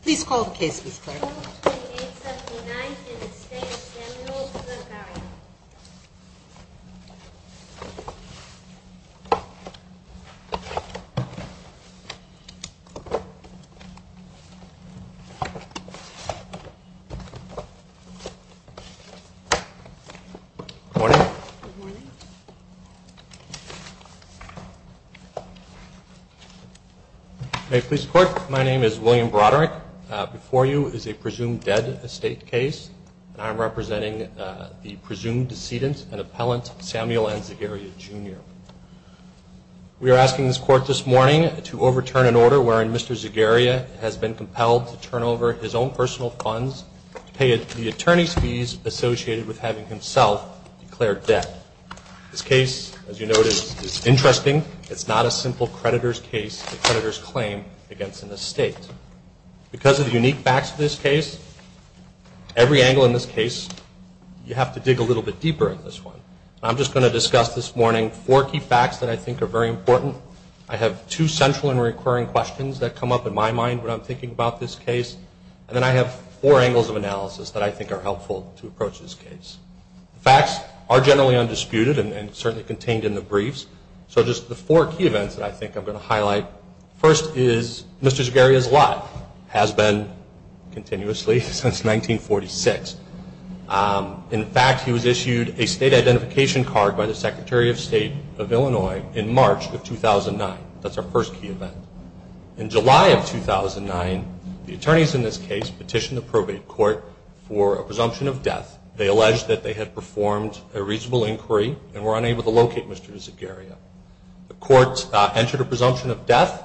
Please call the case Ms. Clark. Claim 2879 in Estate of Samuel Zagaria. Good morning. Good morning. May it please the court, my name is William Broderick. Before you is a presumed dead estate case, and I'm representing the presumed decedent and appellant Samuel N. Zagaria, Jr. We are asking this court this morning to overturn an order wherein Mr. Zagaria has been compelled to turn over his own This case, as you notice, is interesting. It's not a simple creditor's case, a creditor's claim against an estate. Because of the unique facts of this case, every angle in this case, you have to dig a little bit deeper in this one. I'm just going to discuss this morning four key facts that I think are very important. I have two central and recurring questions that come up in my mind when I'm thinking about this case, and then I have four angles of analysis that I think are helpful to approach this case. The facts are generally undisputed and certainly contained in the briefs, so just the four key events that I think I'm going to highlight. First is Mr. Zagaria's lot has been continuously since 1946. In fact, he was issued a state identification card by the Secretary of State of Illinois in March of 2009. That's our first key event. In July of 2009, the attorneys in this case petitioned the probate court for a presumption of death. They alleged that they had performed a reasonable inquiry and were unable to locate Mr. Zagaria. The court entered a presumption of death,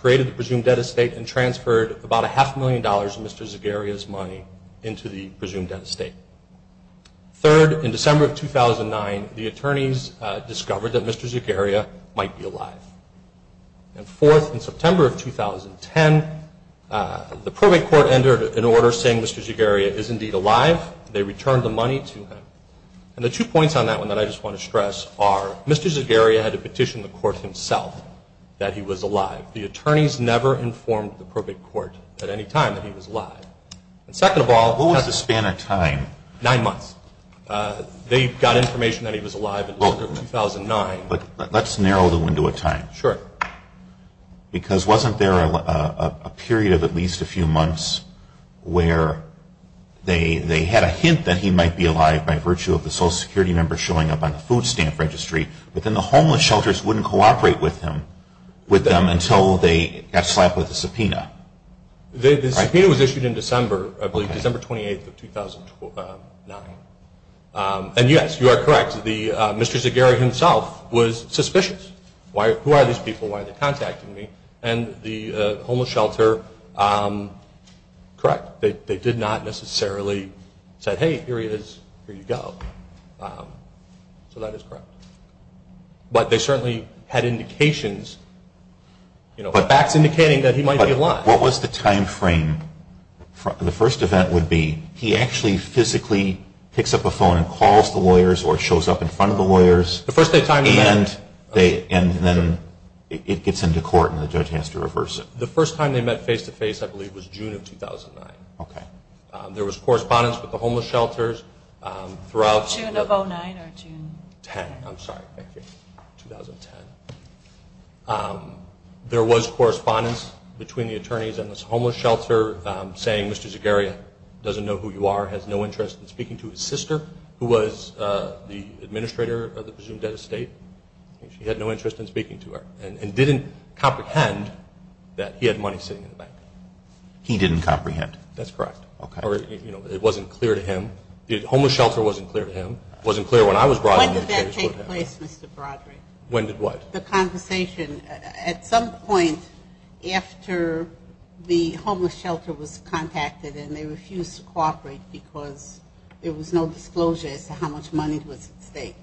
created the presumed dead estate, and transferred about a half a million dollars of Mr. Zagaria's money into the presumed dead estate. Third, in December of 2009, the attorneys discovered that Mr. Zagaria might be alive. And fourth, in September of 2010, the probate court entered an order saying Mr. Zagaria is indeed alive. They returned the money to him. And the two points on that one that I just want to stress are, Mr. Zagaria had to petition the court himself that he was alive. The attorneys never informed the probate court at any time that he was alive. And second of all- What was the span of time? Nine months. They got information that he was alive in October of 2009. Let's narrow the window of time. Sure. Because wasn't there a period of at least a few months where they had a hint that he might be alive by virtue of the Social Security number showing up on the food stamp registry? But then the homeless shelters wouldn't cooperate with them until they got slapped with a subpoena. The subpoena was issued in December, I believe, December 28th of 2009. And, yes, you are correct. Mr. Zagaria himself was suspicious. Who are these people? Why are they contacting me? And the homeless shelter, correct, they did not necessarily say, hey, here he is, here you go. So that is correct. But they certainly had indications, facts indicating that he might be alive. What was the time frame? The first event would be he actually physically picks up a phone and calls the lawyers or shows up in front of the lawyers. The first day of time event. And then it gets into court and the judge has to reverse it. The first time they met face-to-face, I believe, was June of 2009. Okay. There was correspondence with the homeless shelters throughout- June of 2009 or June- Ten, I'm sorry, 2010. There was correspondence between the attorneys and this homeless shelter saying Mr. Zagaria doesn't know who you are, has no interest in speaking to his sister, who was the administrator of the presumed dead estate. She had no interest in speaking to her and didn't comprehend that he had money sitting in the bank. He didn't comprehend? That's correct. Okay. It wasn't clear to him. The homeless shelter wasn't clear to him. It wasn't clear when I was brought in. When did that take place, Mr. Broderick? When did what? The conversation. At some point after the homeless shelter was contacted and they refused to cooperate because there was no disclosure as to how much money was at stake.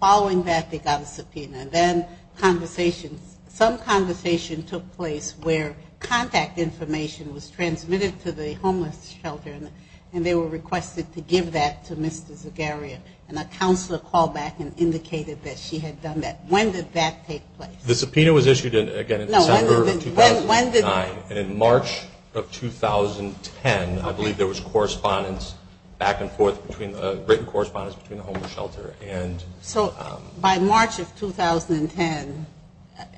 Following that, they got a subpoena. Then conversations, some conversations took place where contact information was transmitted to the homeless shelter and they were requested to give that to Mr. Zagaria. A counselor called back and indicated that she had done that. When did that take place? The subpoena was issued, again, in December of 2009. In March of 2010, I believe there was correspondence back and forth, written correspondence between the homeless shelter. So by March of 2010,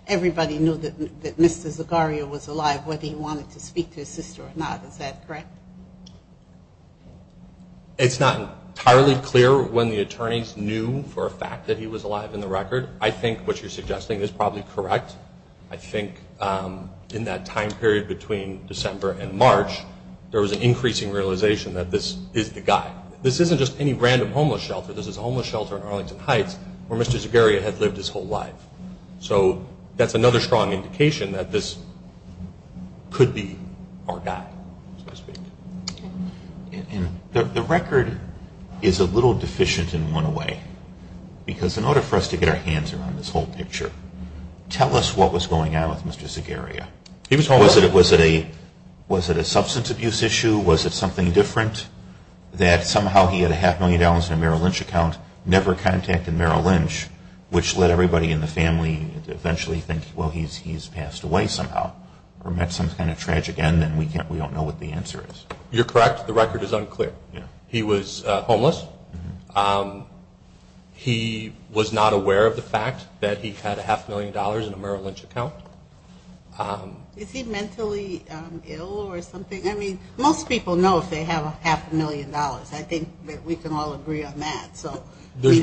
everybody knew that Mr. Zagaria was alive, whether he wanted to speak to his sister or not. Is that correct? It's not entirely clear when the attorneys knew for a fact that he was alive in the record. I think what you're suggesting is probably correct. I think in that time period between December and March, there was an increasing realization that this is the guy. This isn't just any random homeless shelter. This is a homeless shelter in Arlington Heights where Mr. Zagaria had lived his whole life. So that's another strong indication that this could be our guy, so to speak. The record is a little deficient in one way because in order for us to get our hands around this whole picture, tell us what was going on with Mr. Zagaria. Was it a substance abuse issue? Was it something different that somehow he had a half million dollars in a Merrill Lynch account, never contacted Merrill Lynch, which led everybody in the family to eventually think, well, he's passed away somehow or met some kind of tragic end, and we don't know what the answer is. You're correct. The record is unclear. He was homeless. He was not aware of the fact that he had a half million dollars in a Merrill Lynch account. Is he mentally ill or something? I mean, most people know if they have a half a million dollars. I think that we can all agree on that.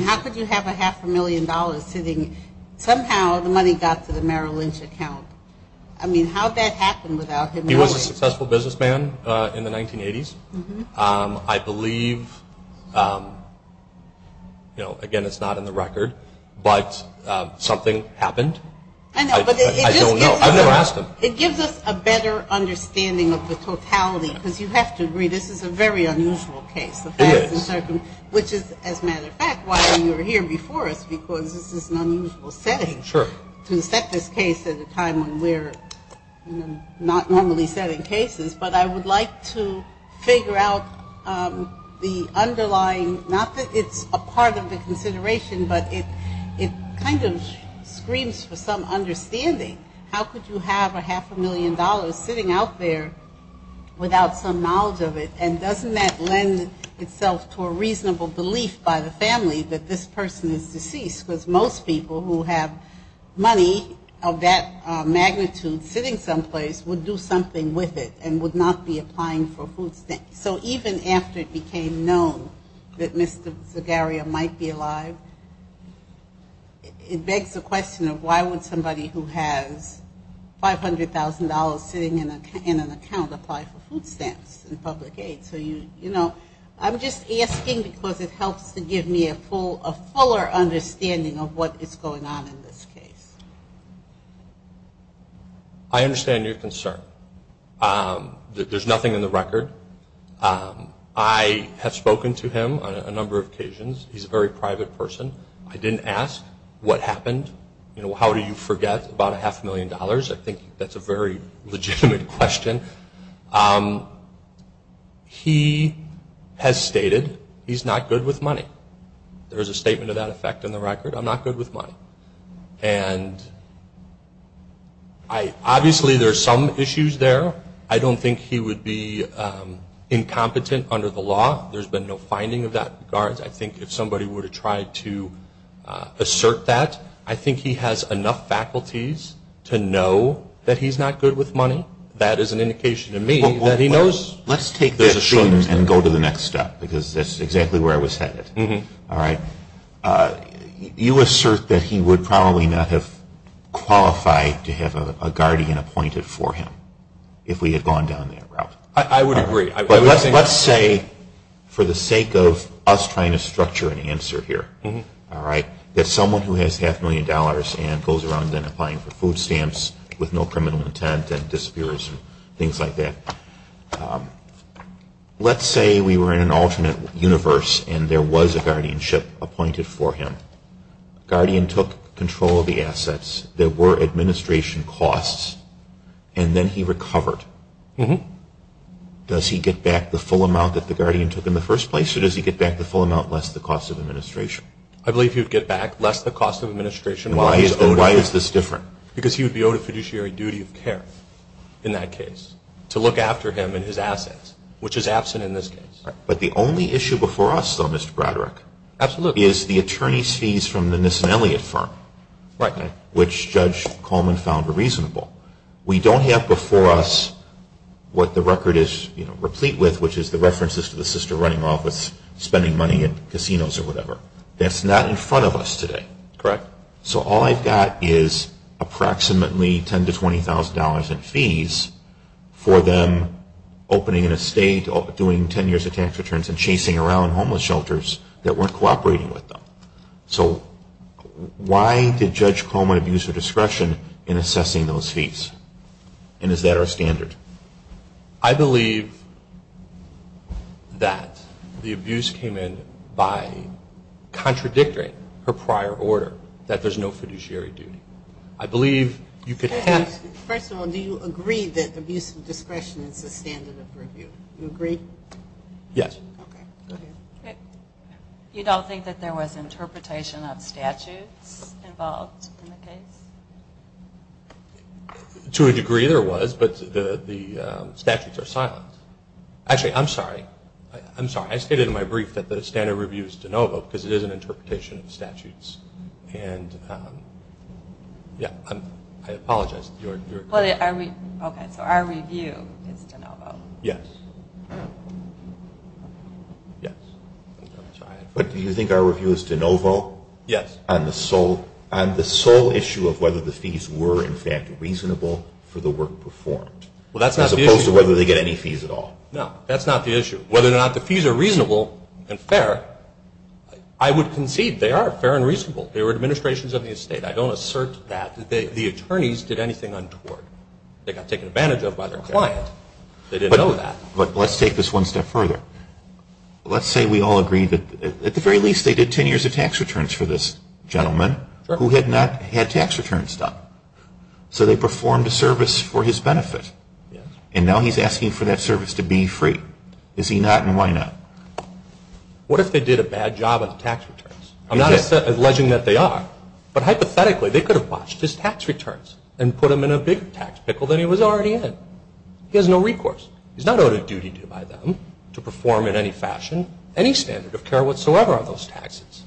How could you have a half a million dollars sitting, somehow the money got to the Merrill Lynch account? I mean, how did that happen without him knowing? He was a successful businessman in the 1980s. I believe, again, it's not in the record, but something happened. I don't know. I've never asked him. It gives us a better understanding of the totality because you have to agree, this is a very unusual case. Which is, as a matter of fact, why you're here before us because this is an unusual setting to set this case at a time when we're not normally setting cases. But I would like to figure out the underlying, not that it's a part of the consideration, but it kind of screams for some understanding. How could you have a half a million dollars sitting out there without some knowledge of it? And doesn't that lend itself to a reasonable belief by the family that this person is deceased? Because most people who have money of that magnitude sitting someplace would do something with it and would not be applying for food stamps. So even after it became known that Mr. Zagarria might be alive, it begs the question of why would somebody who has $500,000 sitting in an account apply for food stamps and public aid? So I'm just asking because it helps to give me a fuller understanding of what is going on in this case. I understand your concern. There's nothing in the record. I have spoken to him on a number of occasions. He's a very private person. I didn't ask what happened. How do you forget about a half a million dollars? I think that's a very legitimate question. He has stated he's not good with money. There is a statement of that effect in the record. I'm not good with money. Obviously there are some issues there. I don't think he would be incompetent under the law. There's been no finding of that in regards. I think if somebody were to try to assert that, I think he has enough faculties to know that he's not good with money. That is an indication to me that he knows. Let's take this and go to the next step because that's exactly where I was headed. You assert that he would probably not have qualified to have a guardian appointed for him if we had gone down that route. I would agree. Let's say for the sake of us trying to structure an answer here, that someone who has half a million dollars and goes around applying for food stamps with no criminal intent and disappears and things like that. Let's say we were in an alternate universe and there was a guardianship appointed for him. The guardian took control of the assets that were administration costs and then he recovered. Does he get back the full amount that the guardian took in the first place or does he get back the full amount less the cost of administration? I believe he would get back less the cost of administration. Why is this different? Because he would be owed a fiduciary duty of care in that case to look after him and his assets, which is absent in this case. But the only issue before us, though, Mr. Braderick, is the attorney's fees from the Nissen-Elliott firm, which Judge Coleman found reasonable. We don't have before us what the record is replete with, which is the references to the sister running office spending money in casinos or whatever. That's not in front of us today. Correct. So all I've got is approximately $10,000 to $20,000 in fees for them opening an estate or doing 10 years of tax returns and chasing around homeless shelters that weren't cooperating with them. So why did Judge Coleman abuse her discretion in assessing those fees? And is that our standard? I believe that the abuse came in by contradicting her prior order, that there's no fiduciary duty. First of all, do you agree that abuse of discretion is the standard of review? Do you agree? Yes. Okay. You don't think that there was interpretation of statutes involved in the case? To a degree there was, but the statutes are silent. Actually, I'm sorry. I'm sorry. I stated in my brief that the standard of review is de novo because it is an interpretation of statutes. And, yeah, I apologize. Okay. So our review is de novo. Yes. Yes. I'm sorry. But do you think our review is de novo? Yes. Do you agree that on the sole issue of whether the fees were, in fact, reasonable for the work performed? Well, that's not the issue. As opposed to whether they get any fees at all. No. That's not the issue. Whether or not the fees are reasonable and fair, I would concede they are fair and reasonable. They were administrations of the estate. I don't assert that the attorneys did anything untoward. They got taken advantage of by their client. They didn't know that. But let's take this one step further. Let's say we all agree that at the very least they did ten years of tax returns for this gentleman who had not had tax returns done. So they performed a service for his benefit. And now he's asking for that service to be free. Is he not and why not? What if they did a bad job on the tax returns? I'm not alleging that they are, but hypothetically they could have watched his tax returns and put him in a bigger tax pickle than he was already in. He has no recourse. He's not owed a duty by them to perform in any fashion any standard of care whatsoever on those taxes.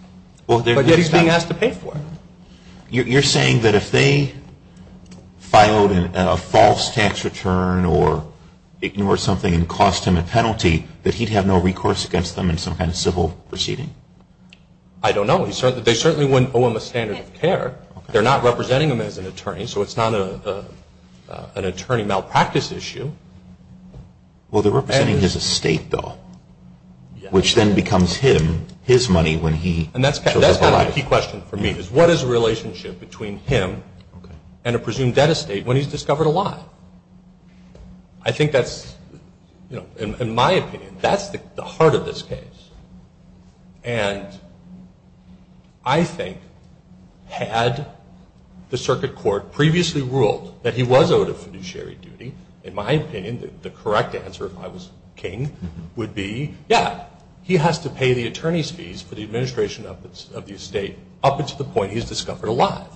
But yet he's being asked to pay for it. You're saying that if they filed a false tax return or ignored something and cost him a penalty, that he'd have no recourse against them in some kind of civil proceeding? I don't know. They certainly wouldn't owe him a standard of care. They're not representing him as an attorney, so it's not an attorney malpractice issue. Well, they're representing his estate, though, which then becomes his money when he shows up alive. And that's kind of the key question for me, is what is the relationship between him and a presumed debt estate when he's discovered a lie? I think that's, in my opinion, that's the heart of this case. And I think had the circuit court previously ruled that he was owed a fiduciary duty, in my opinion, the correct answer, if I was king, would be, yeah, he has to pay the attorney's fees for the administration of the estate up until the point he's discovered alive.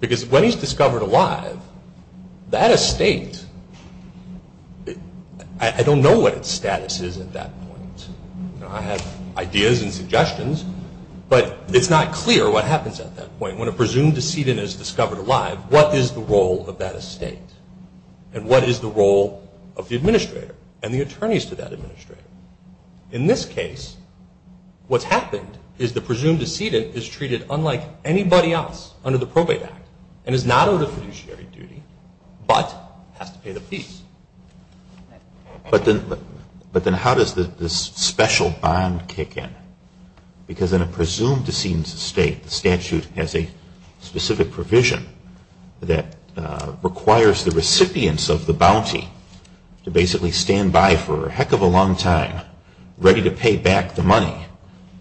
Because when he's discovered alive, that estate, I don't know what its status is at that point. I have ideas and suggestions, but it's not clear what happens at that point. When a presumed decedent is discovered alive, what is the role of that estate? And what is the role of the administrator and the attorneys to that administrator? In this case, what's happened is the presumed decedent is treated unlike anybody else under the Probate Act and is not owed a fiduciary duty, but has to pay the fees. But then how does this special bond kick in? Because in a presumed decedent's estate, the statute has a specific provision that requires the recipients of the bounty to basically stand by for a heck of a long time, ready to pay back the money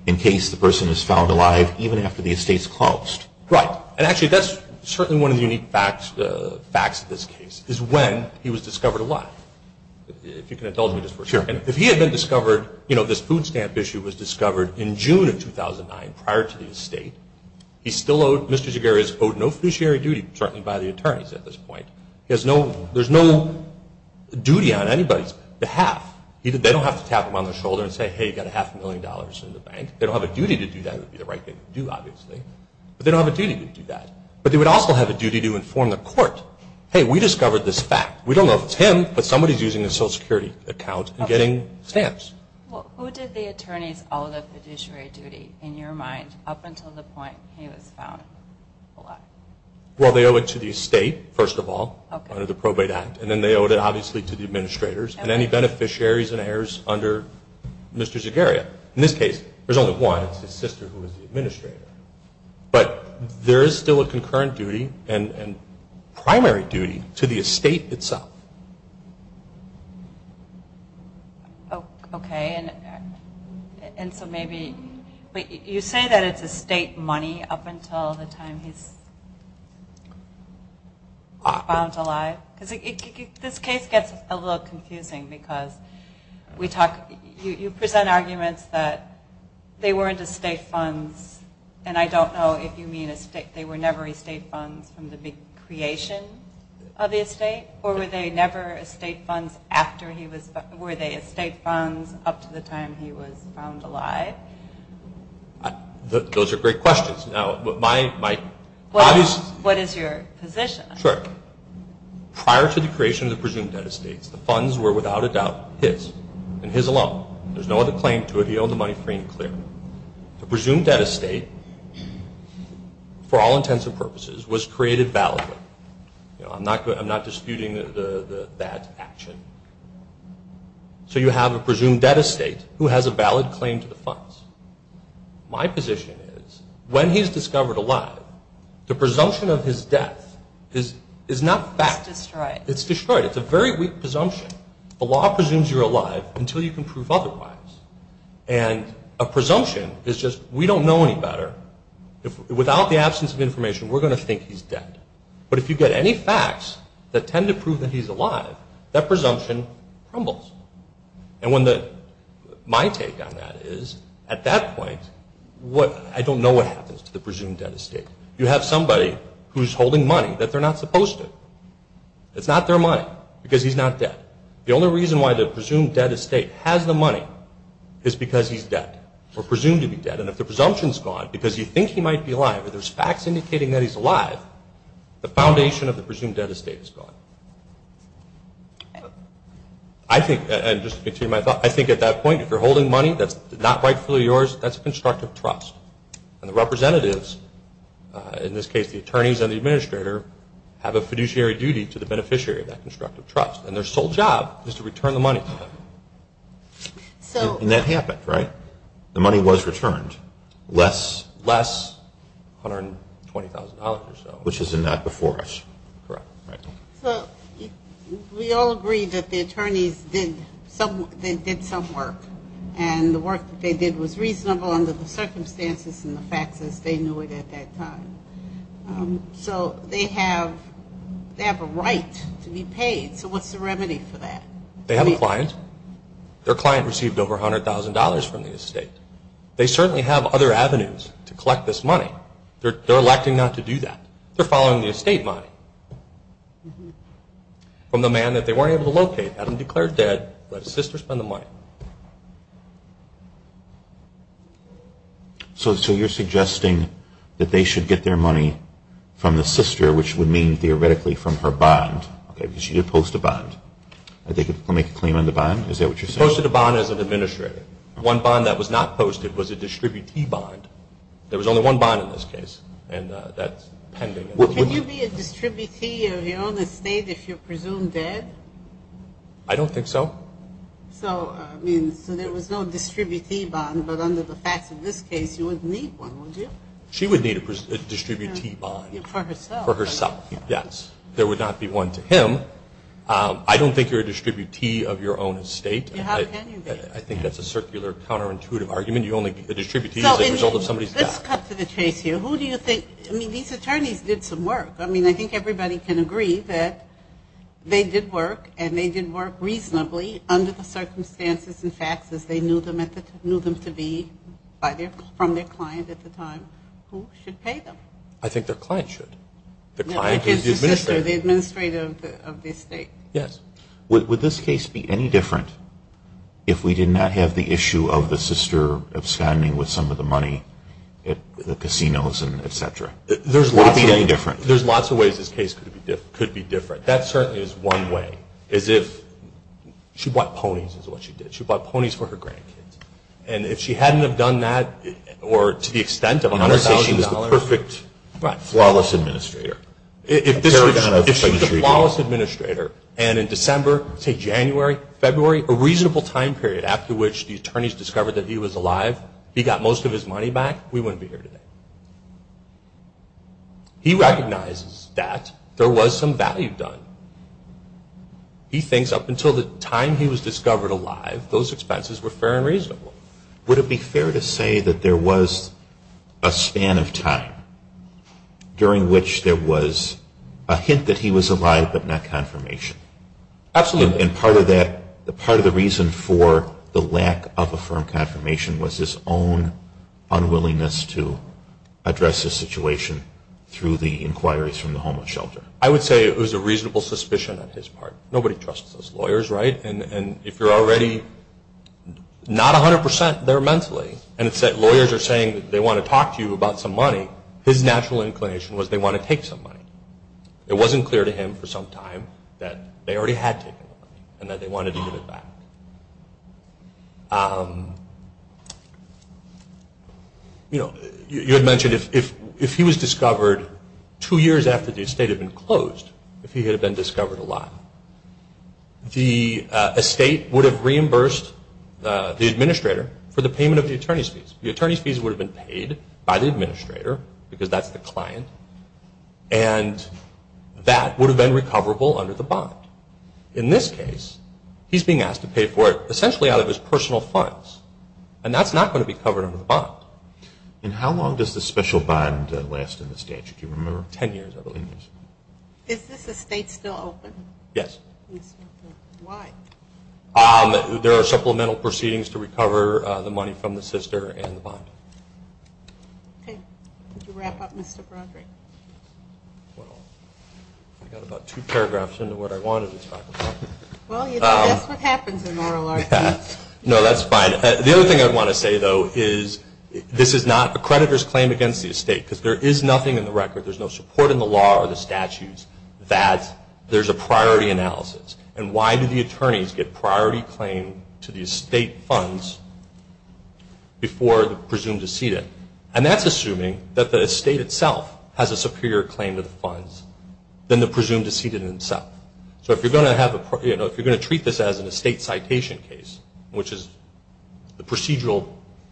in case the person is found alive even after the estate's closed. Right. And actually, that's certainly one of the unique facts of this case, is when he was discovered alive. If you can indulge me just for a second. Sure. If he had been discovered, you know, this food stamp issue was discovered in June of 2009 prior to the estate, he's still owed, Mr. Zagaris owed no fiduciary duty, certainly by the attorneys at this point. He has no, there's no duty on anybody's behalf. They don't have to tap him on the shoulder and say, hey, you've got a half a million dollars in the bank. They don't have a duty to do that. It would be the right thing to do, obviously. But they don't have a duty to do that. But they would also have a duty to inform the court, hey, we discovered this fact. We don't know if it's him, but somebody's using a Social Security account and getting stamps. Okay. Well, who did the attorneys owe the fiduciary duty, in your mind, up until the point he was found alive? Well, they owe it to the estate, first of all, under the Probate Act. And then they owed it, obviously, to the administrators and any beneficiaries and heirs under Mr. Zagaris. In this case, there's only one. It's his sister who is the administrator. But there is still a concurrent duty and primary duty to the estate itself. Okay. And so maybe, you say that it's estate money up until the time he's found alive? This case gets a little confusing because you present arguments that they weren't estate funds, and I don't know if you mean they were never estate funds from the big creation of the estate, or were they never estate funds after he was found alive? Were they estate funds up to the time he was found alive? Those are great questions. What is your position? Sure. Prior to the creation of the presumed debt estates, the funds were, without a doubt, his and his alone. There's no other claim to it. He owed the money free and clear. The presumed debt estate, for all intents and purposes, was created validly. I'm not disputing that action. So you have a presumed debt estate who has a valid claim to the funds. My position is, when he's discovered alive, the presumption of his death is not fact. It's destroyed. It's destroyed. It's a very weak presumption. The law presumes you're alive until you can prove otherwise. And a presumption is just, we don't know any better. Without the absence of information, we're going to think he's dead. But if you get any facts that tend to prove that he's alive, that presumption crumbles. And my take on that is, at that point, I don't know what happens to the presumed debt estate. You have somebody who's holding money that they're not supposed to. It's not their money because he's not dead. The only reason why the presumed debt estate has the money is because he's dead or presumed to be dead, and if the presumption's gone because you think he might be alive or there's facts indicating that he's alive, the foundation of the presumed debt estate is gone. I think, and just to continue my thought, I think at that point, if you're holding money that's not rightfully yours, that's a constructive trust. And the representatives, in this case the attorneys and the administrator, have a fiduciary duty to the beneficiary of that constructive trust. And their sole job is to return the money to them. And that happened, right? The money was returned. Less $120,000 or so. Which is not before us. Correct. So we all agree that the attorneys did some work. And the work that they did was reasonable under the circumstances and the facts as they knew it at that time. So they have a right to be paid. So what's the remedy for that? They have a client. Their client received over $100,000 from the estate. They certainly have other avenues to collect this money. They're electing not to do that. They're following the estate money from the man that they weren't able to locate. Adam declared dead. Let his sister spend the money. So you're suggesting that they should get their money from the sister, which would mean theoretically from her bond. Okay, because she did post a bond. Did they make a claim on the bond? Is that what you're saying? She posted a bond as an administrator. One bond that was not posted was a distributee bond. There was only one bond in this case, and that's pending. Can you be a distributee of your own estate if you're presumed dead? I don't think so. So, I mean, so there was no distributee bond, but under the facts of this case you wouldn't need one, would you? She would need a distributee bond. For herself. For herself, yes. There would not be one to him. I don't think you're a distributee of your own estate. How can you be? I think that's a circular counterintuitive argument. How can you only be a distributee as a result of somebody's death? Let's cut to the chase here. Who do you think? I mean, these attorneys did some work. I mean, I think everybody can agree that they did work, and they did work reasonably under the circumstances and facts as they knew them to be from their client at the time. Who should pay them? I think their client should. The client is the administrator. The administrator of the estate. Yes. Would this case be any different if we did not have the issue of the sister absconding with some of the money at the casinos and et cetera? Would it be any different? There's lots of ways this case could be different. That certainly is one way, is if she bought ponies is what she did. She bought ponies for her grandkids, and if she hadn't have done that or to the extent of $100,000. Not to say she was the perfect, flawless administrator. If she was a flawless administrator and in December, say January, February, a reasonable time period after which the attorneys discovered that he was alive, he got most of his money back, we wouldn't be here today. He recognizes that there was some value done. He thinks up until the time he was discovered alive, those expenses were fair and reasonable. Would it be fair to say that there was a span of time during which there was a hint that he was alive but not confirmation? Absolutely. And part of that, part of the reason for the lack of a firm confirmation was his own unwillingness to address the situation through the inquiries from the homeless shelter? I would say it was a reasonable suspicion on his part. Nobody trusts us lawyers, right? And if you're already not 100% there mentally, and lawyers are saying they want to talk to you about some money, his natural inclination was they want to take some money. It wasn't clear to him for some time that they already had taken the money and that they wanted to give it back. You had mentioned if he was discovered two years after the estate had been closed, if he had been discovered alive, the estate would have reimbursed the administrator for the payment of the attorney's fees. The attorney's fees would have been paid by the administrator, because that's the client, and that would have been recoverable under the bond. In this case, he's being asked to pay for it essentially out of his personal funds, and that's not going to be covered under the bond. And how long does the special bond last in the statute? Do you remember? Ten years, I believe. Is this estate still open? Yes. Why? There are supplemental proceedings to recover the money from the sister and the bond. Okay. Could you wrap up, Mr. Broderick? Well, I got about two paragraphs into what I wanted to talk about. Well, you know, that's what happens in RLRC. No, that's fine. The other thing I want to say, though, is this is not a creditor's claim against the estate, because there is nothing in the record, there's no support in the law or the statutes, that there's a priority analysis. And why do the attorneys get priority claim to the estate funds before the presumed decedent? And that's assuming that the estate itself has a superior claim to the funds than the presumed decedent itself. So if you're going to treat this as an estate citation case, which is the procedural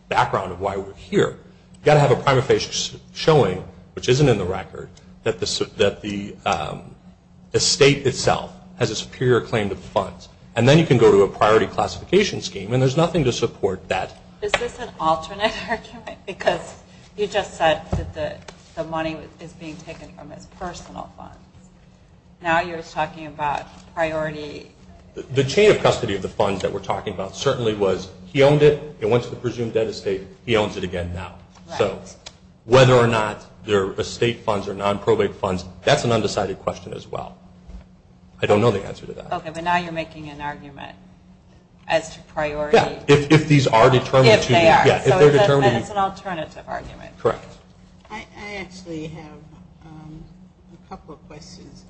background of why we're here, you've got to have a prima facie showing, which isn't in the record, that the estate itself has a superior claim to the funds. And then you can go to a priority classification scheme, and there's nothing to support that. Is this an alternate argument? Because you just said that the money is being taken from his personal funds. Now you're talking about priority. The chain of custody of the funds that we're talking about certainly was he owned it and went to the presumed debt estate. He owns it again now. So whether or not they're estate funds or non-probate funds, that's an undecided question as well. I don't know the answer to that. Okay, but now you're making an argument as to priority. Yeah, if these are determined to be. If they are. Yeah, if they're determined to be. Then it's an alternative argument. Correct. I actually have a couple of questions.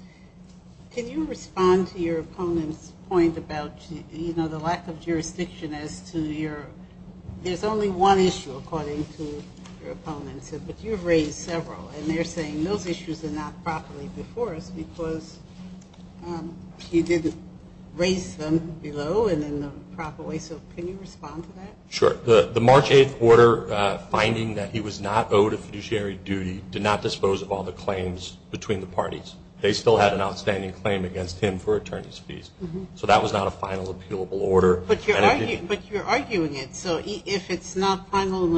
Can you respond to your opponent's point about, you know, the lack of jurisdiction as to your – There's only one issue, according to your opponent. But you've raised several, and they're saying those issues are not properly before us because he didn't raise them below and in the proper way. So can you respond to that? Sure. The March 8th order finding that he was not owed a fiduciary duty did not dispose of all the claims between the parties. They still had an outstanding claim against him for attorney's fees. So that was not a final appealable order. But you're arguing it. So if it's not final and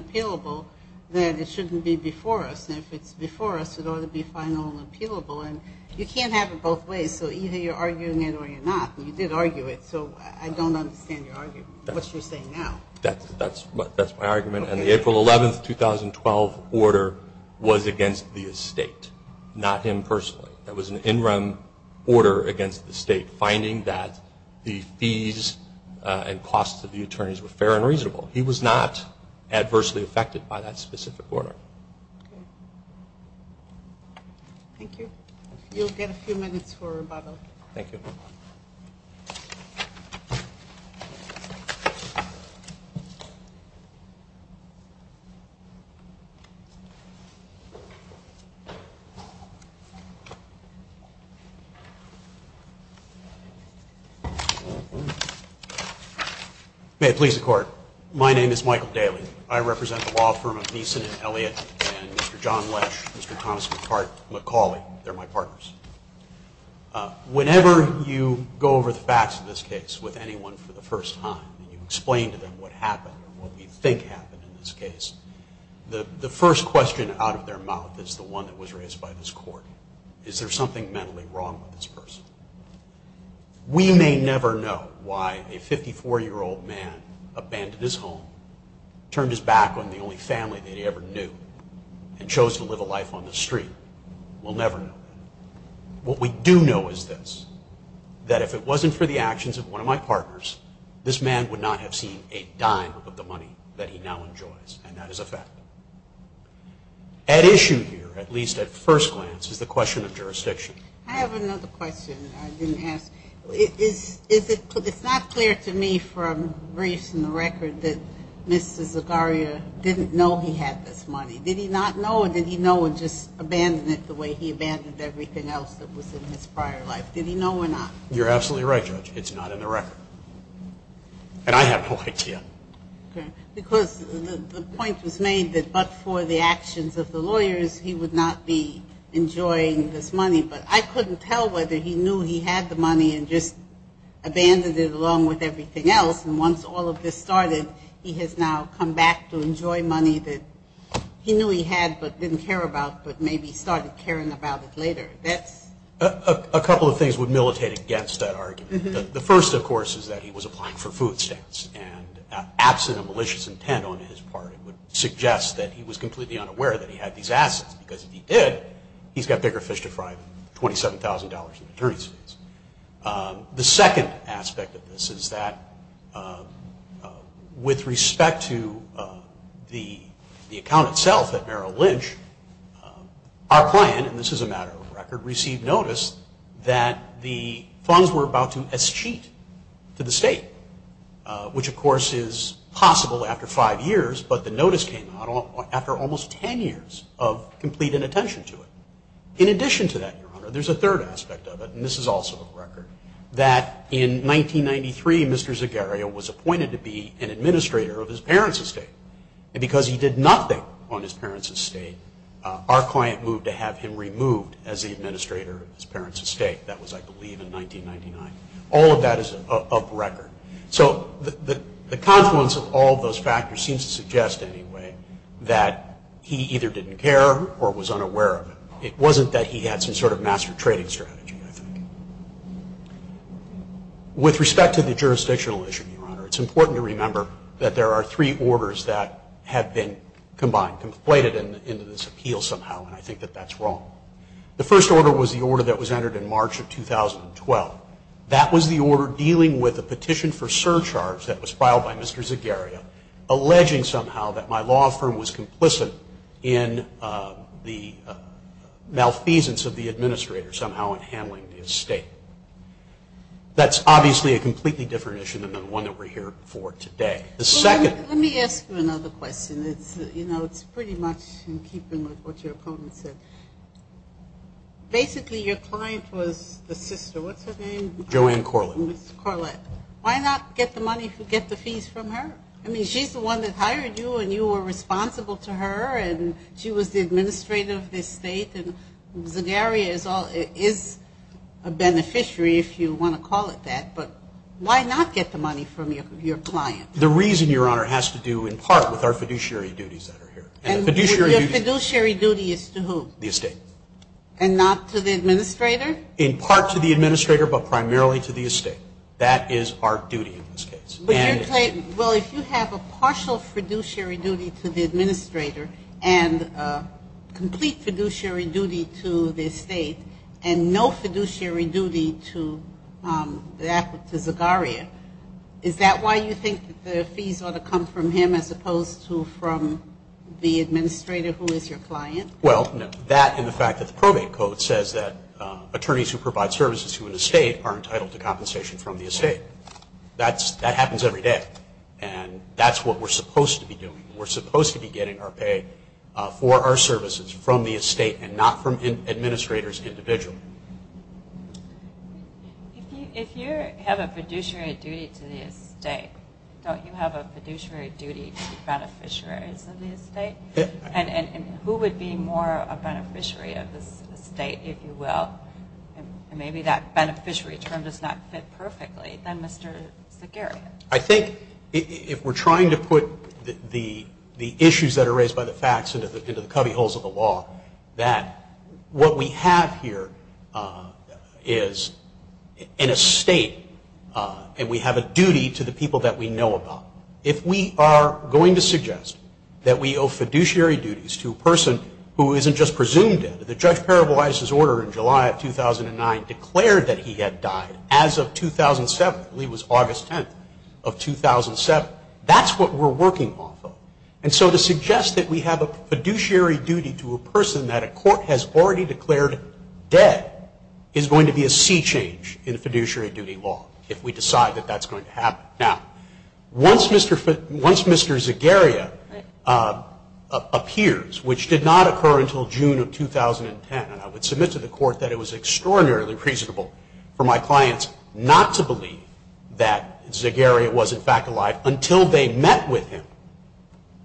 appealable, then it shouldn't be before us. And if it's before us, it ought to be final and appealable. And you can't have it both ways. So either you're arguing it or you're not. You did argue it. So I don't understand your argument, what you're saying now. That's my argument. And the April 11th, 2012 order was against the estate, not him personally. That was an in-rem order against the state, finding that the fees and costs of the attorneys were fair and reasonable. He was not adversely affected by that specific order. Thank you. You'll get a few minutes for rebuttal. Thank you. May it please the Court. My name is Michael Daly. I represent the law firm of Beeson and Elliott and Mr. John Lesh, Mr. Thomas McCauley. They're my partners. Whenever you go over the facts of this case with anyone for the first time and you explain to them what happened or what we think happened in this case, the first question out of their mouth is the one that was raised by this Court. Is there something mentally wrong with this person? We may never know why a 54-year-old man abandoned his home, turned his back on the only family that he ever knew, and chose to live a life on the street. We'll never know. What we do know is this, that if it wasn't for the actions of one of my partners, this man would not have seen a dime of the money that he now enjoys, and that is a fact. I have another question I didn't ask. It's not clear to me from briefs and the record that Mr. Zagarria didn't know he had this money. Did he not know, or did he know and just abandon it the way he abandoned everything else that was in his prior life? Did he know or not? You're absolutely right, Judge. It's not in the record. And I have no idea. Because the point was made that but for the actions of the lawyers, he would not be enjoying this money. But I couldn't tell whether he knew he had the money and just abandoned it along with everything else. And once all of this started, he has now come back to enjoy money that he knew he had but didn't care about but maybe started caring about it later. A couple of things would militate against that argument. The first, of course, is that he was applying for food stamps. And absent a malicious intent on his part, it would suggest that he was completely unaware that he had these assets. Because if he did, he's got bigger fish to fry than $27,000 in attorney's fees. The second aspect of this is that with respect to the account itself at Merrill Lynch, our client, and this is a matter of record, received notice that the funds were about to escheat to the state, which, of course, is possible after five years, but the notice came out after almost ten years of complete inattention to it. In addition to that, Your Honor, there's a third aspect of it, and this is also of record, that in 1993, Mr. Zegaria was appointed to be an administrator of his parents' estate. And because he did nothing on his parents' estate, our client moved to have him removed as the administrator of his parents' estate. That was, I believe, in 1999. All of that is of record. So the confluence of all those factors seems to suggest, anyway, that he either didn't care or was unaware of it. It wasn't that he had some sort of master trading strategy, I think. With respect to the jurisdictional issue, Your Honor, it's important to remember that there are three orders that have been combined, conflated into this appeal somehow, and I think that that's wrong. The first order was the order that was entered in March of 2012. That was the order dealing with a petition for surcharge that was filed by Mr. Zegaria, alleging somehow that my law firm was complicit in the malfeasance of the administrator somehow in handling the estate. That's obviously a completely different issue than the one that we're here for today. Let me ask you another question. It's pretty much in keeping with what your opponent said. Basically, your client was the sister. What's her name? Joanne Corlett. Ms. Corlett. Why not get the money, get the fees from her? I mean, she's the one that hired you, and you were responsible to her, and she was the administrator of the estate, and Zegaria is a beneficiary, if you want to call it that. But why not get the money from your client? The reason, Your Honor, has to do in part with our fiduciary duties that are here. Your fiduciary duty is to who? The estate. And not to the administrator? In part to the administrator, but primarily to the estate. That is our duty in this case. Well, if you have a partial fiduciary duty to the administrator and complete fiduciary duty to the estate and no fiduciary duty to Zegaria, is that why you think the fees ought to come from him as opposed to from the administrator who is your client? Well, no. That and the fact that the probate code says that attorneys who provide services to an estate are entitled to compensation from the estate. That happens every day, and that's what we're supposed to be doing. We're supposed to be getting our pay for our services from the estate and not from administrators individually. If you have a fiduciary duty to the estate, don't you have a fiduciary duty to beneficiaries of the estate? And who would be more a beneficiary of this estate, if you will? And maybe that beneficiary term does not fit perfectly. Then Mr. Zegaria. I think if we're trying to put the issues that are raised by the facts into the cubbyholes of the law, that what we have here is an estate, and we have a duty to the people that we know about. If we are going to suggest that we owe fiduciary duties to a person who isn't just presumed dead, the judge parabolized his order in July of 2009, declared that he had died as of 2007. I believe it was August 10th of 2007. That's what we're working off of. And so to suggest that we have a fiduciary duty to a person that a court has already declared dead is going to be a sea change in fiduciary duty law, if we decide that that's going to happen. Now, once Mr. Zegaria appears, which did not occur until June of 2010, and I would submit to the court that it was extraordinarily reasonable for my clients not to believe that Zegaria was in fact alive until they met with him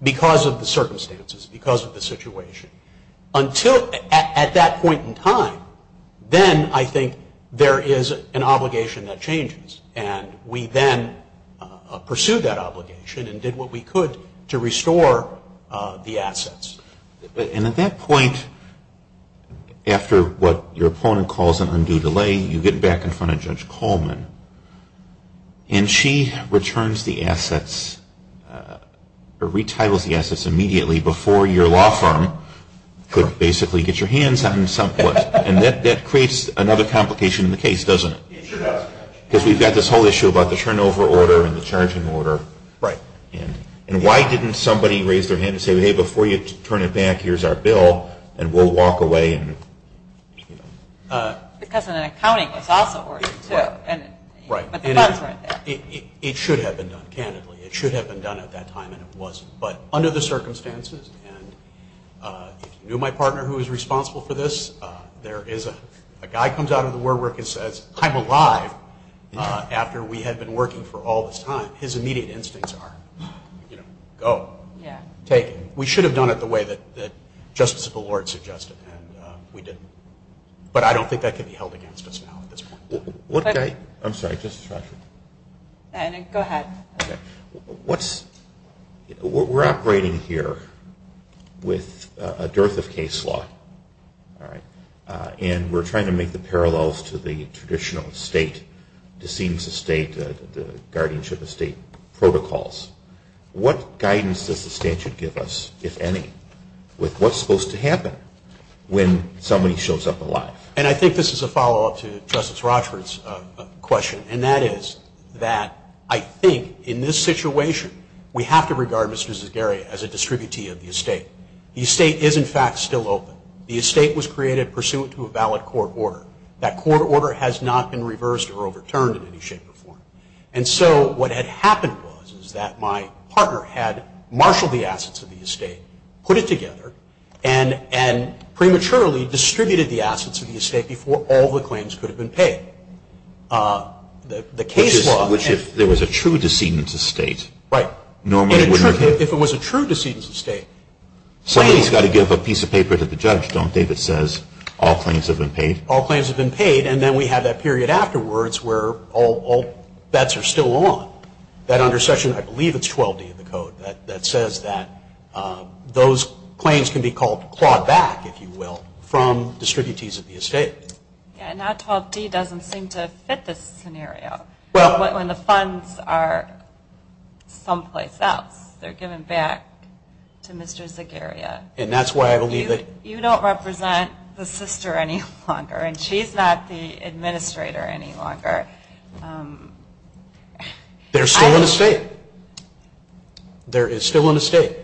because of the circumstances, because of the situation. Until at that point in time, then I think there is an obligation that changes, and we then pursued that obligation and did what we could to restore the assets. And at that point, after what your opponent calls an undue delay, you get back in front of Judge Coleman, and she returns the assets or retitles the assets immediately before your law firm could basically get your hands on some of it. And that creates another complication in the case, doesn't it? It sure does. Because we've got this whole issue about the turnover order and the charging order. Right. And why didn't somebody raise their hand and say, hey, before you turn it back, here's our bill, and we'll walk away? Because an accounting was also ordered too. Right. But the funds weren't there. It should have been done, candidly. It should have been done at that time, and it wasn't. But under the circumstances, and if you knew my partner who was responsible for this, there is a guy comes out of the war work and says, I'm alive after we had been working for all this time. His immediate instincts are, you know, go. Yeah. Take it. We should have done it the way that Justice Bellord suggested, and we didn't. But I don't think that can be held against us now at this point. I'm sorry. Go ahead. We're operating here with a dearth of case law. All right. And we're trying to make the parallels to the traditional estate, the guardianship estate protocols. What guidance does the statute give us, if any, with what's supposed to happen when somebody shows up alive? And I think this is a follow-up to Justice Rochford's question, and that is that I think in this situation, we have to regard Mr. Zagaria as a distributee of the estate. The estate is, in fact, still open. The estate was created pursuant to a valid court order. And so what had happened was that my partner had marshaled the assets of the estate, put it together, and prematurely distributed the assets of the estate before all the claims could have been paid. The case law. Which if there was a true decedent's estate. Right. If it was a true decedent's estate. Somebody's got to give a piece of paper to the judge, don't they, that says all claims have been paid? All claims have been paid. And then we have that period afterwards where all bets are still on. That under section, I believe it's 12D of the code, that says that those claims can be clawed back, if you will, from distributees of the estate. Yeah, and that 12D doesn't seem to fit this scenario. Well. When the funds are someplace else. They're given back to Mr. Zagaria. And that's why I believe that. You don't represent the sister any longer. And she's not the administrator any longer. There's still an estate. There is still an estate.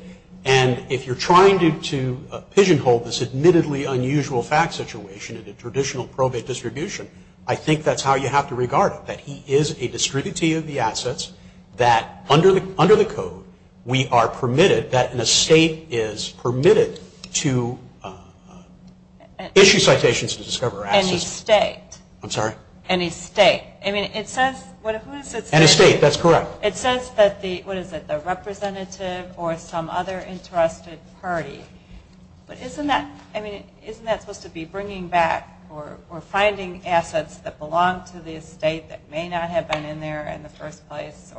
And if you're trying to pigeonhole this admittedly unusual fact situation in a traditional probate distribution, I think that's how you have to regard it. That he is a distributee of the assets. Under the code, we are permitted that an estate is permitted to issue citations to discover assets. An estate. I'm sorry? An estate. An estate, that's correct. It says that the, what is it, the representative or some other entrusted party. But isn't that supposed to be bringing back or finding assets that belong to the estate that may not have been in there in the first place?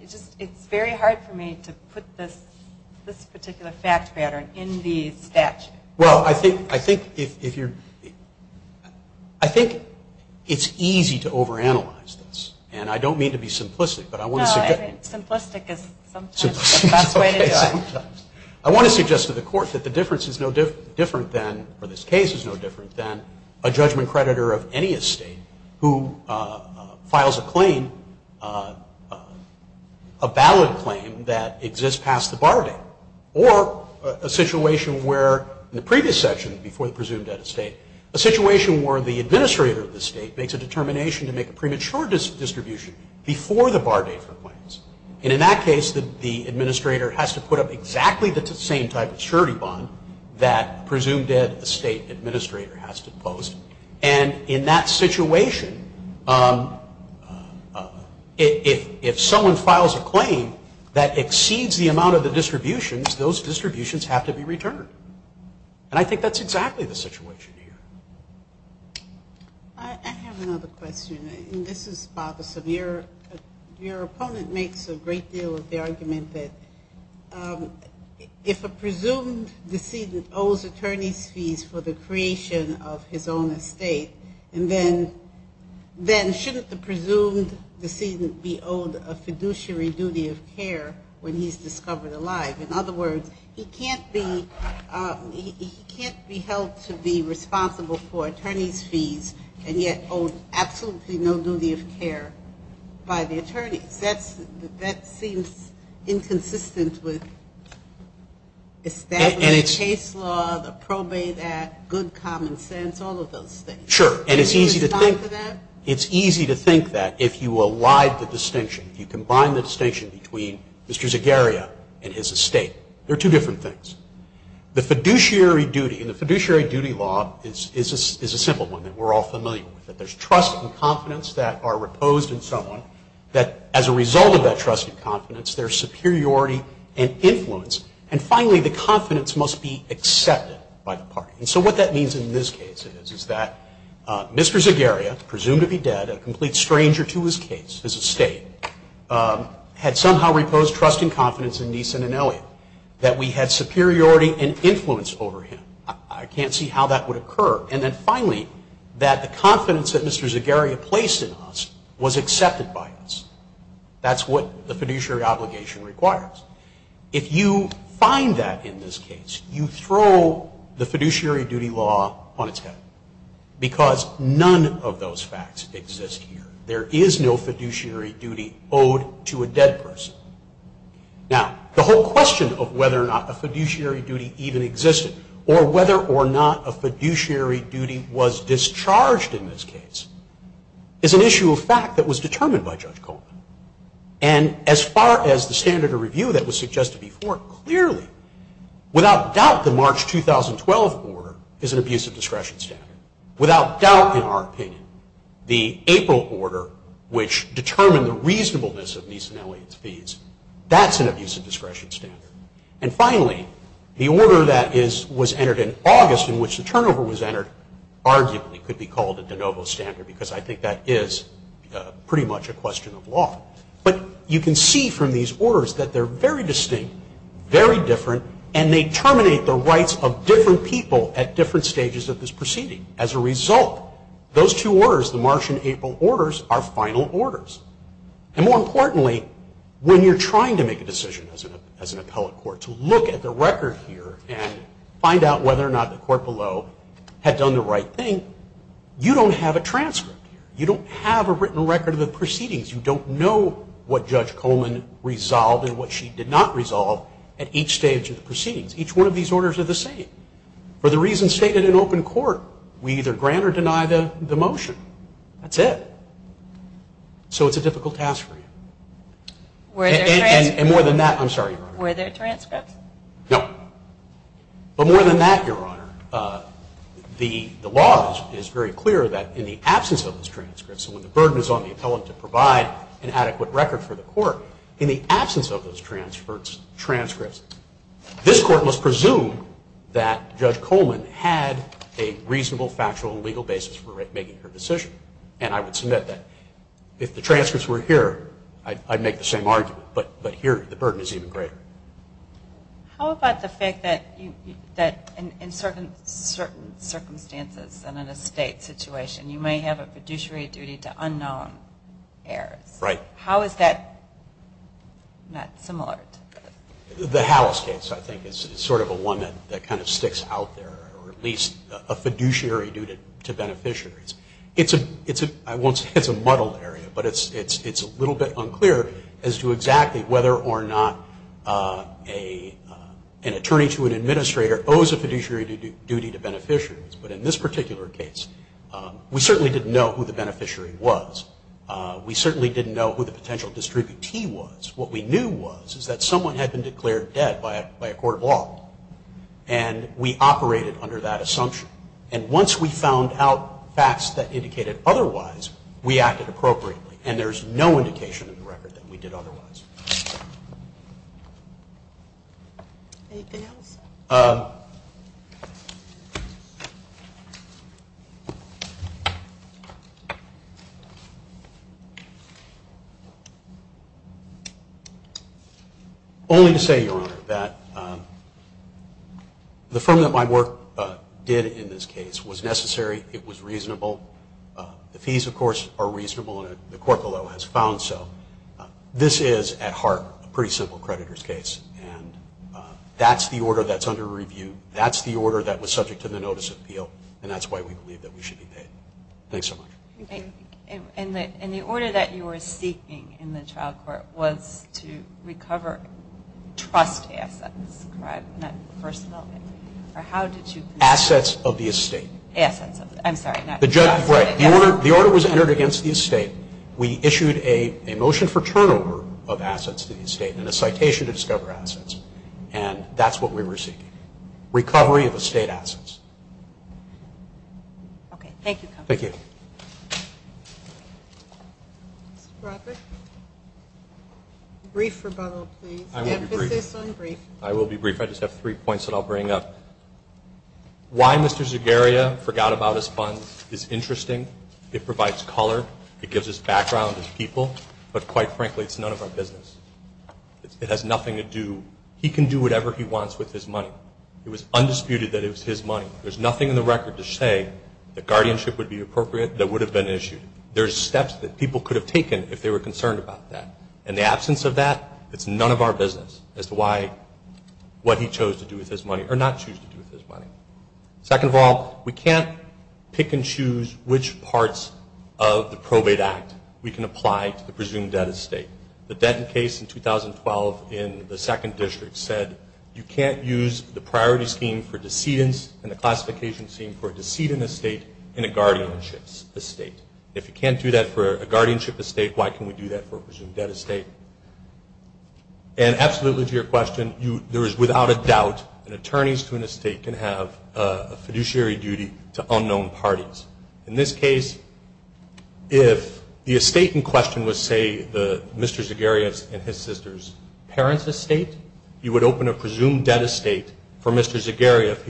It's very hard for me to put this particular fact pattern in the statute. Well, I think it's easy to overanalyze this. And I don't mean to be simplistic. No, simplistic is sometimes the best way to do it. I want to suggest to the court that the difference is no different than, or this case is no different than a judgment creditor of any estate who files a claim, a valid claim that exists past the bar date. Or a situation where, in the previous section, before the presumed debt estate, a situation where the administrator of the estate makes a determination to make a premature distribution before the bar date for claims. And in that case, the administrator has to put up exactly the same type of surety bond that a presumed debt estate administrator has to post. And in that situation, if someone files a claim that exceeds the amount of the distributions, those distributions have to be returned. And I think that's exactly the situation here. I have another question, and this is about the severe. Your opponent makes a great deal of the argument that if a presumed decedent owes attorney's fees for the creation of his own estate, then shouldn't the presumed decedent be owed a fiduciary duty of care when he's discovered alive? In other words, he can't be held to be responsible for attorney's fees and yet owe absolutely no duty of care by the attorneys. That seems inconsistent with established case law, the probate act, good common sense, all of those things. Sure. Can you respond to that? It's easy to think that if you allied the distinction, if you combine the distinction between Mr. Zegaria and his estate. They're two different things. The fiduciary duty, and the fiduciary duty law is a simple one that we're all familiar with. That there's trust and confidence that are reposed in someone. That as a result of that trust and confidence, there's superiority and influence. And finally, the confidence must be accepted by the party. And so what that means in this case is that Mr. Zegaria, presumed to be dead, a complete stranger to his case, his estate, had somehow reposed trust and confidence that we had superiority and influence over him. I can't see how that would occur. And then finally, that the confidence that Mr. Zegaria placed in us was accepted by us. That's what the fiduciary obligation requires. If you find that in this case, you throw the fiduciary duty law on its head. Because none of those facts exist here. There is no fiduciary duty owed to a dead person. Now, the whole question of whether or not a fiduciary duty even existed, or whether or not a fiduciary duty was discharged in this case, is an issue of fact that was determined by Judge Coleman. And as far as the standard of review that was suggested before, clearly, without doubt, the March 2012 order is an abuse of discretion standard. Without doubt, in our opinion, the April order, which determined the reasonableness of Meese and Elliott's fees, that's an abuse of discretion standard. And finally, the order that was entered in August, in which the turnover was entered, arguably could be called a de novo standard, because I think that is pretty much a question of law. But you can see from these orders that they're very distinct, very different, and they terminate the rights of different people at different stages of this proceeding. As a result, those two orders, the March and April orders, are final orders. And more importantly, when you're trying to make a decision as an appellate court, to look at the record here and find out whether or not the court below had done the right thing, you don't have a transcript. You don't have a written record of the proceedings. You don't know what Judge Coleman resolved and what she did not resolve at each stage of the proceedings. Each one of these orders are the same. For the reasons stated in open court, we either grant or deny the motion. That's it. So it's a difficult task for you. And more than that, I'm sorry, Your Honor. Were there transcripts? No. But more than that, Your Honor, the law is very clear that in the absence of those transcripts, and when the burden is on the appellate to provide an adequate record for the court, in the absence of those transcripts, this court must presume that Judge Coleman had a reasonable, factual, and legal basis for making her decision. And I would submit that if the transcripts were here, I'd make the same argument. But here, the burden is even greater. How about the fact that in certain circumstances and in a state situation, you may have a fiduciary duty to unknown heirs? Right. How is that not similar? The Howells case, I think, is sort of a one that kind of sticks out there, or at least a fiduciary duty to beneficiaries. It's a muddled area, but it's a little bit unclear as to exactly whether or not an attorney to an administrator owes a fiduciary duty to beneficiaries. But in this particular case, we certainly didn't know who the beneficiary was. We certainly didn't know who the potential distributee was. What we knew was is that someone had been declared dead by a court of law, and we operated under that assumption. And once we found out facts that indicated otherwise, we acted appropriately, and there's no indication in the record that we did otherwise. Anything else? Only to say, Your Honor, that the firm that my work did in this case was necessary. It was reasonable. The fees, of course, are reasonable, and the court below has found so. This is, at heart, a pretty simple creditor's case, and that's the order that's under review. That's the order that was subject to the notice of appeal, and that's why we believe that we should be paid. Thanks so much. And the order that you were seeking in the trial court was to recover trust assets, correct, in that first element? Or how did you? Assets of the estate. Assets of the estate. I'm sorry, not assets. The order was entered against the estate. We issued a motion for turnover of assets to the estate and a citation to discover assets, and that's what we were seeking. Recovery of estate assets. Okay. Thank you, counsel. Thank you. Mr. Brodbeck, brief rebuttal, please. I will be brief. The emphasis on brief. I will be brief. I just have three points that I'll bring up. Why Mr. Zagarria forgot about his funds is interesting. It provides color. It gives us background as people. But, quite frankly, it's none of our business. It has nothing to do. He can do whatever he wants with his money. It was undisputed that it was his money. There's nothing in the record to say that guardianship would be appropriate that would have been issued. There's steps that people could have taken if they were concerned about that. In the absence of that, it's none of our business as to what he chose to do with his money or not choose to do with his money. Second of all, we can't pick and choose which parts of the probate act we can apply to the presumed debt estate. The Denton case in 2012 in the second district said you can't use the priority scheme for decedents and the classification scheme for a decedent estate in a guardianship estate. If you can't do that for a guardianship estate, why can we do that for a presumed debt estate? And absolutely to your question, there is without a doubt an attorney's to an estate can have a fiduciary duty to unknown parties. In this case, if the estate in question was, say, Mr. Zegaria and his sister's parents' estate, you would open a presumed debt estate for Mr. Zegaria if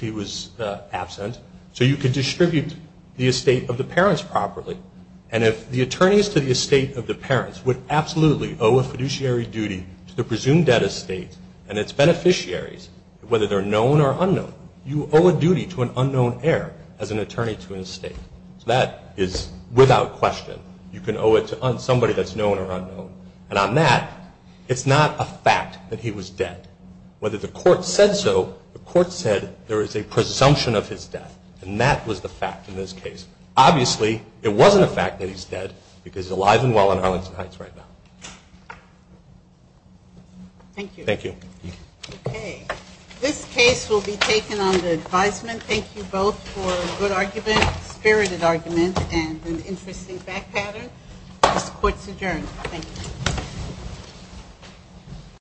he was absent. So you could distribute the estate of the parents properly. And if the attorneys to the estate of the parents would absolutely owe a fiduciary duty to the presumed debt estate and its beneficiaries, whether they're known or unknown, you owe a duty to an unknown heir as an attorney to an estate. So that is without question. You can owe it to somebody that's known or unknown. And on that, it's not a fact that he was dead. Whether the court said so, the court said there is a presumption of his death, and that was the fact in this case. Obviously, it wasn't a fact that he's dead because he's alive and well in Arlington Heights right now. Thank you. Thank you. Okay. This case will be taken under advisement. Thank you both for a good argument, spirited argument, and an interesting back pattern. This court's adjourned. Thank you.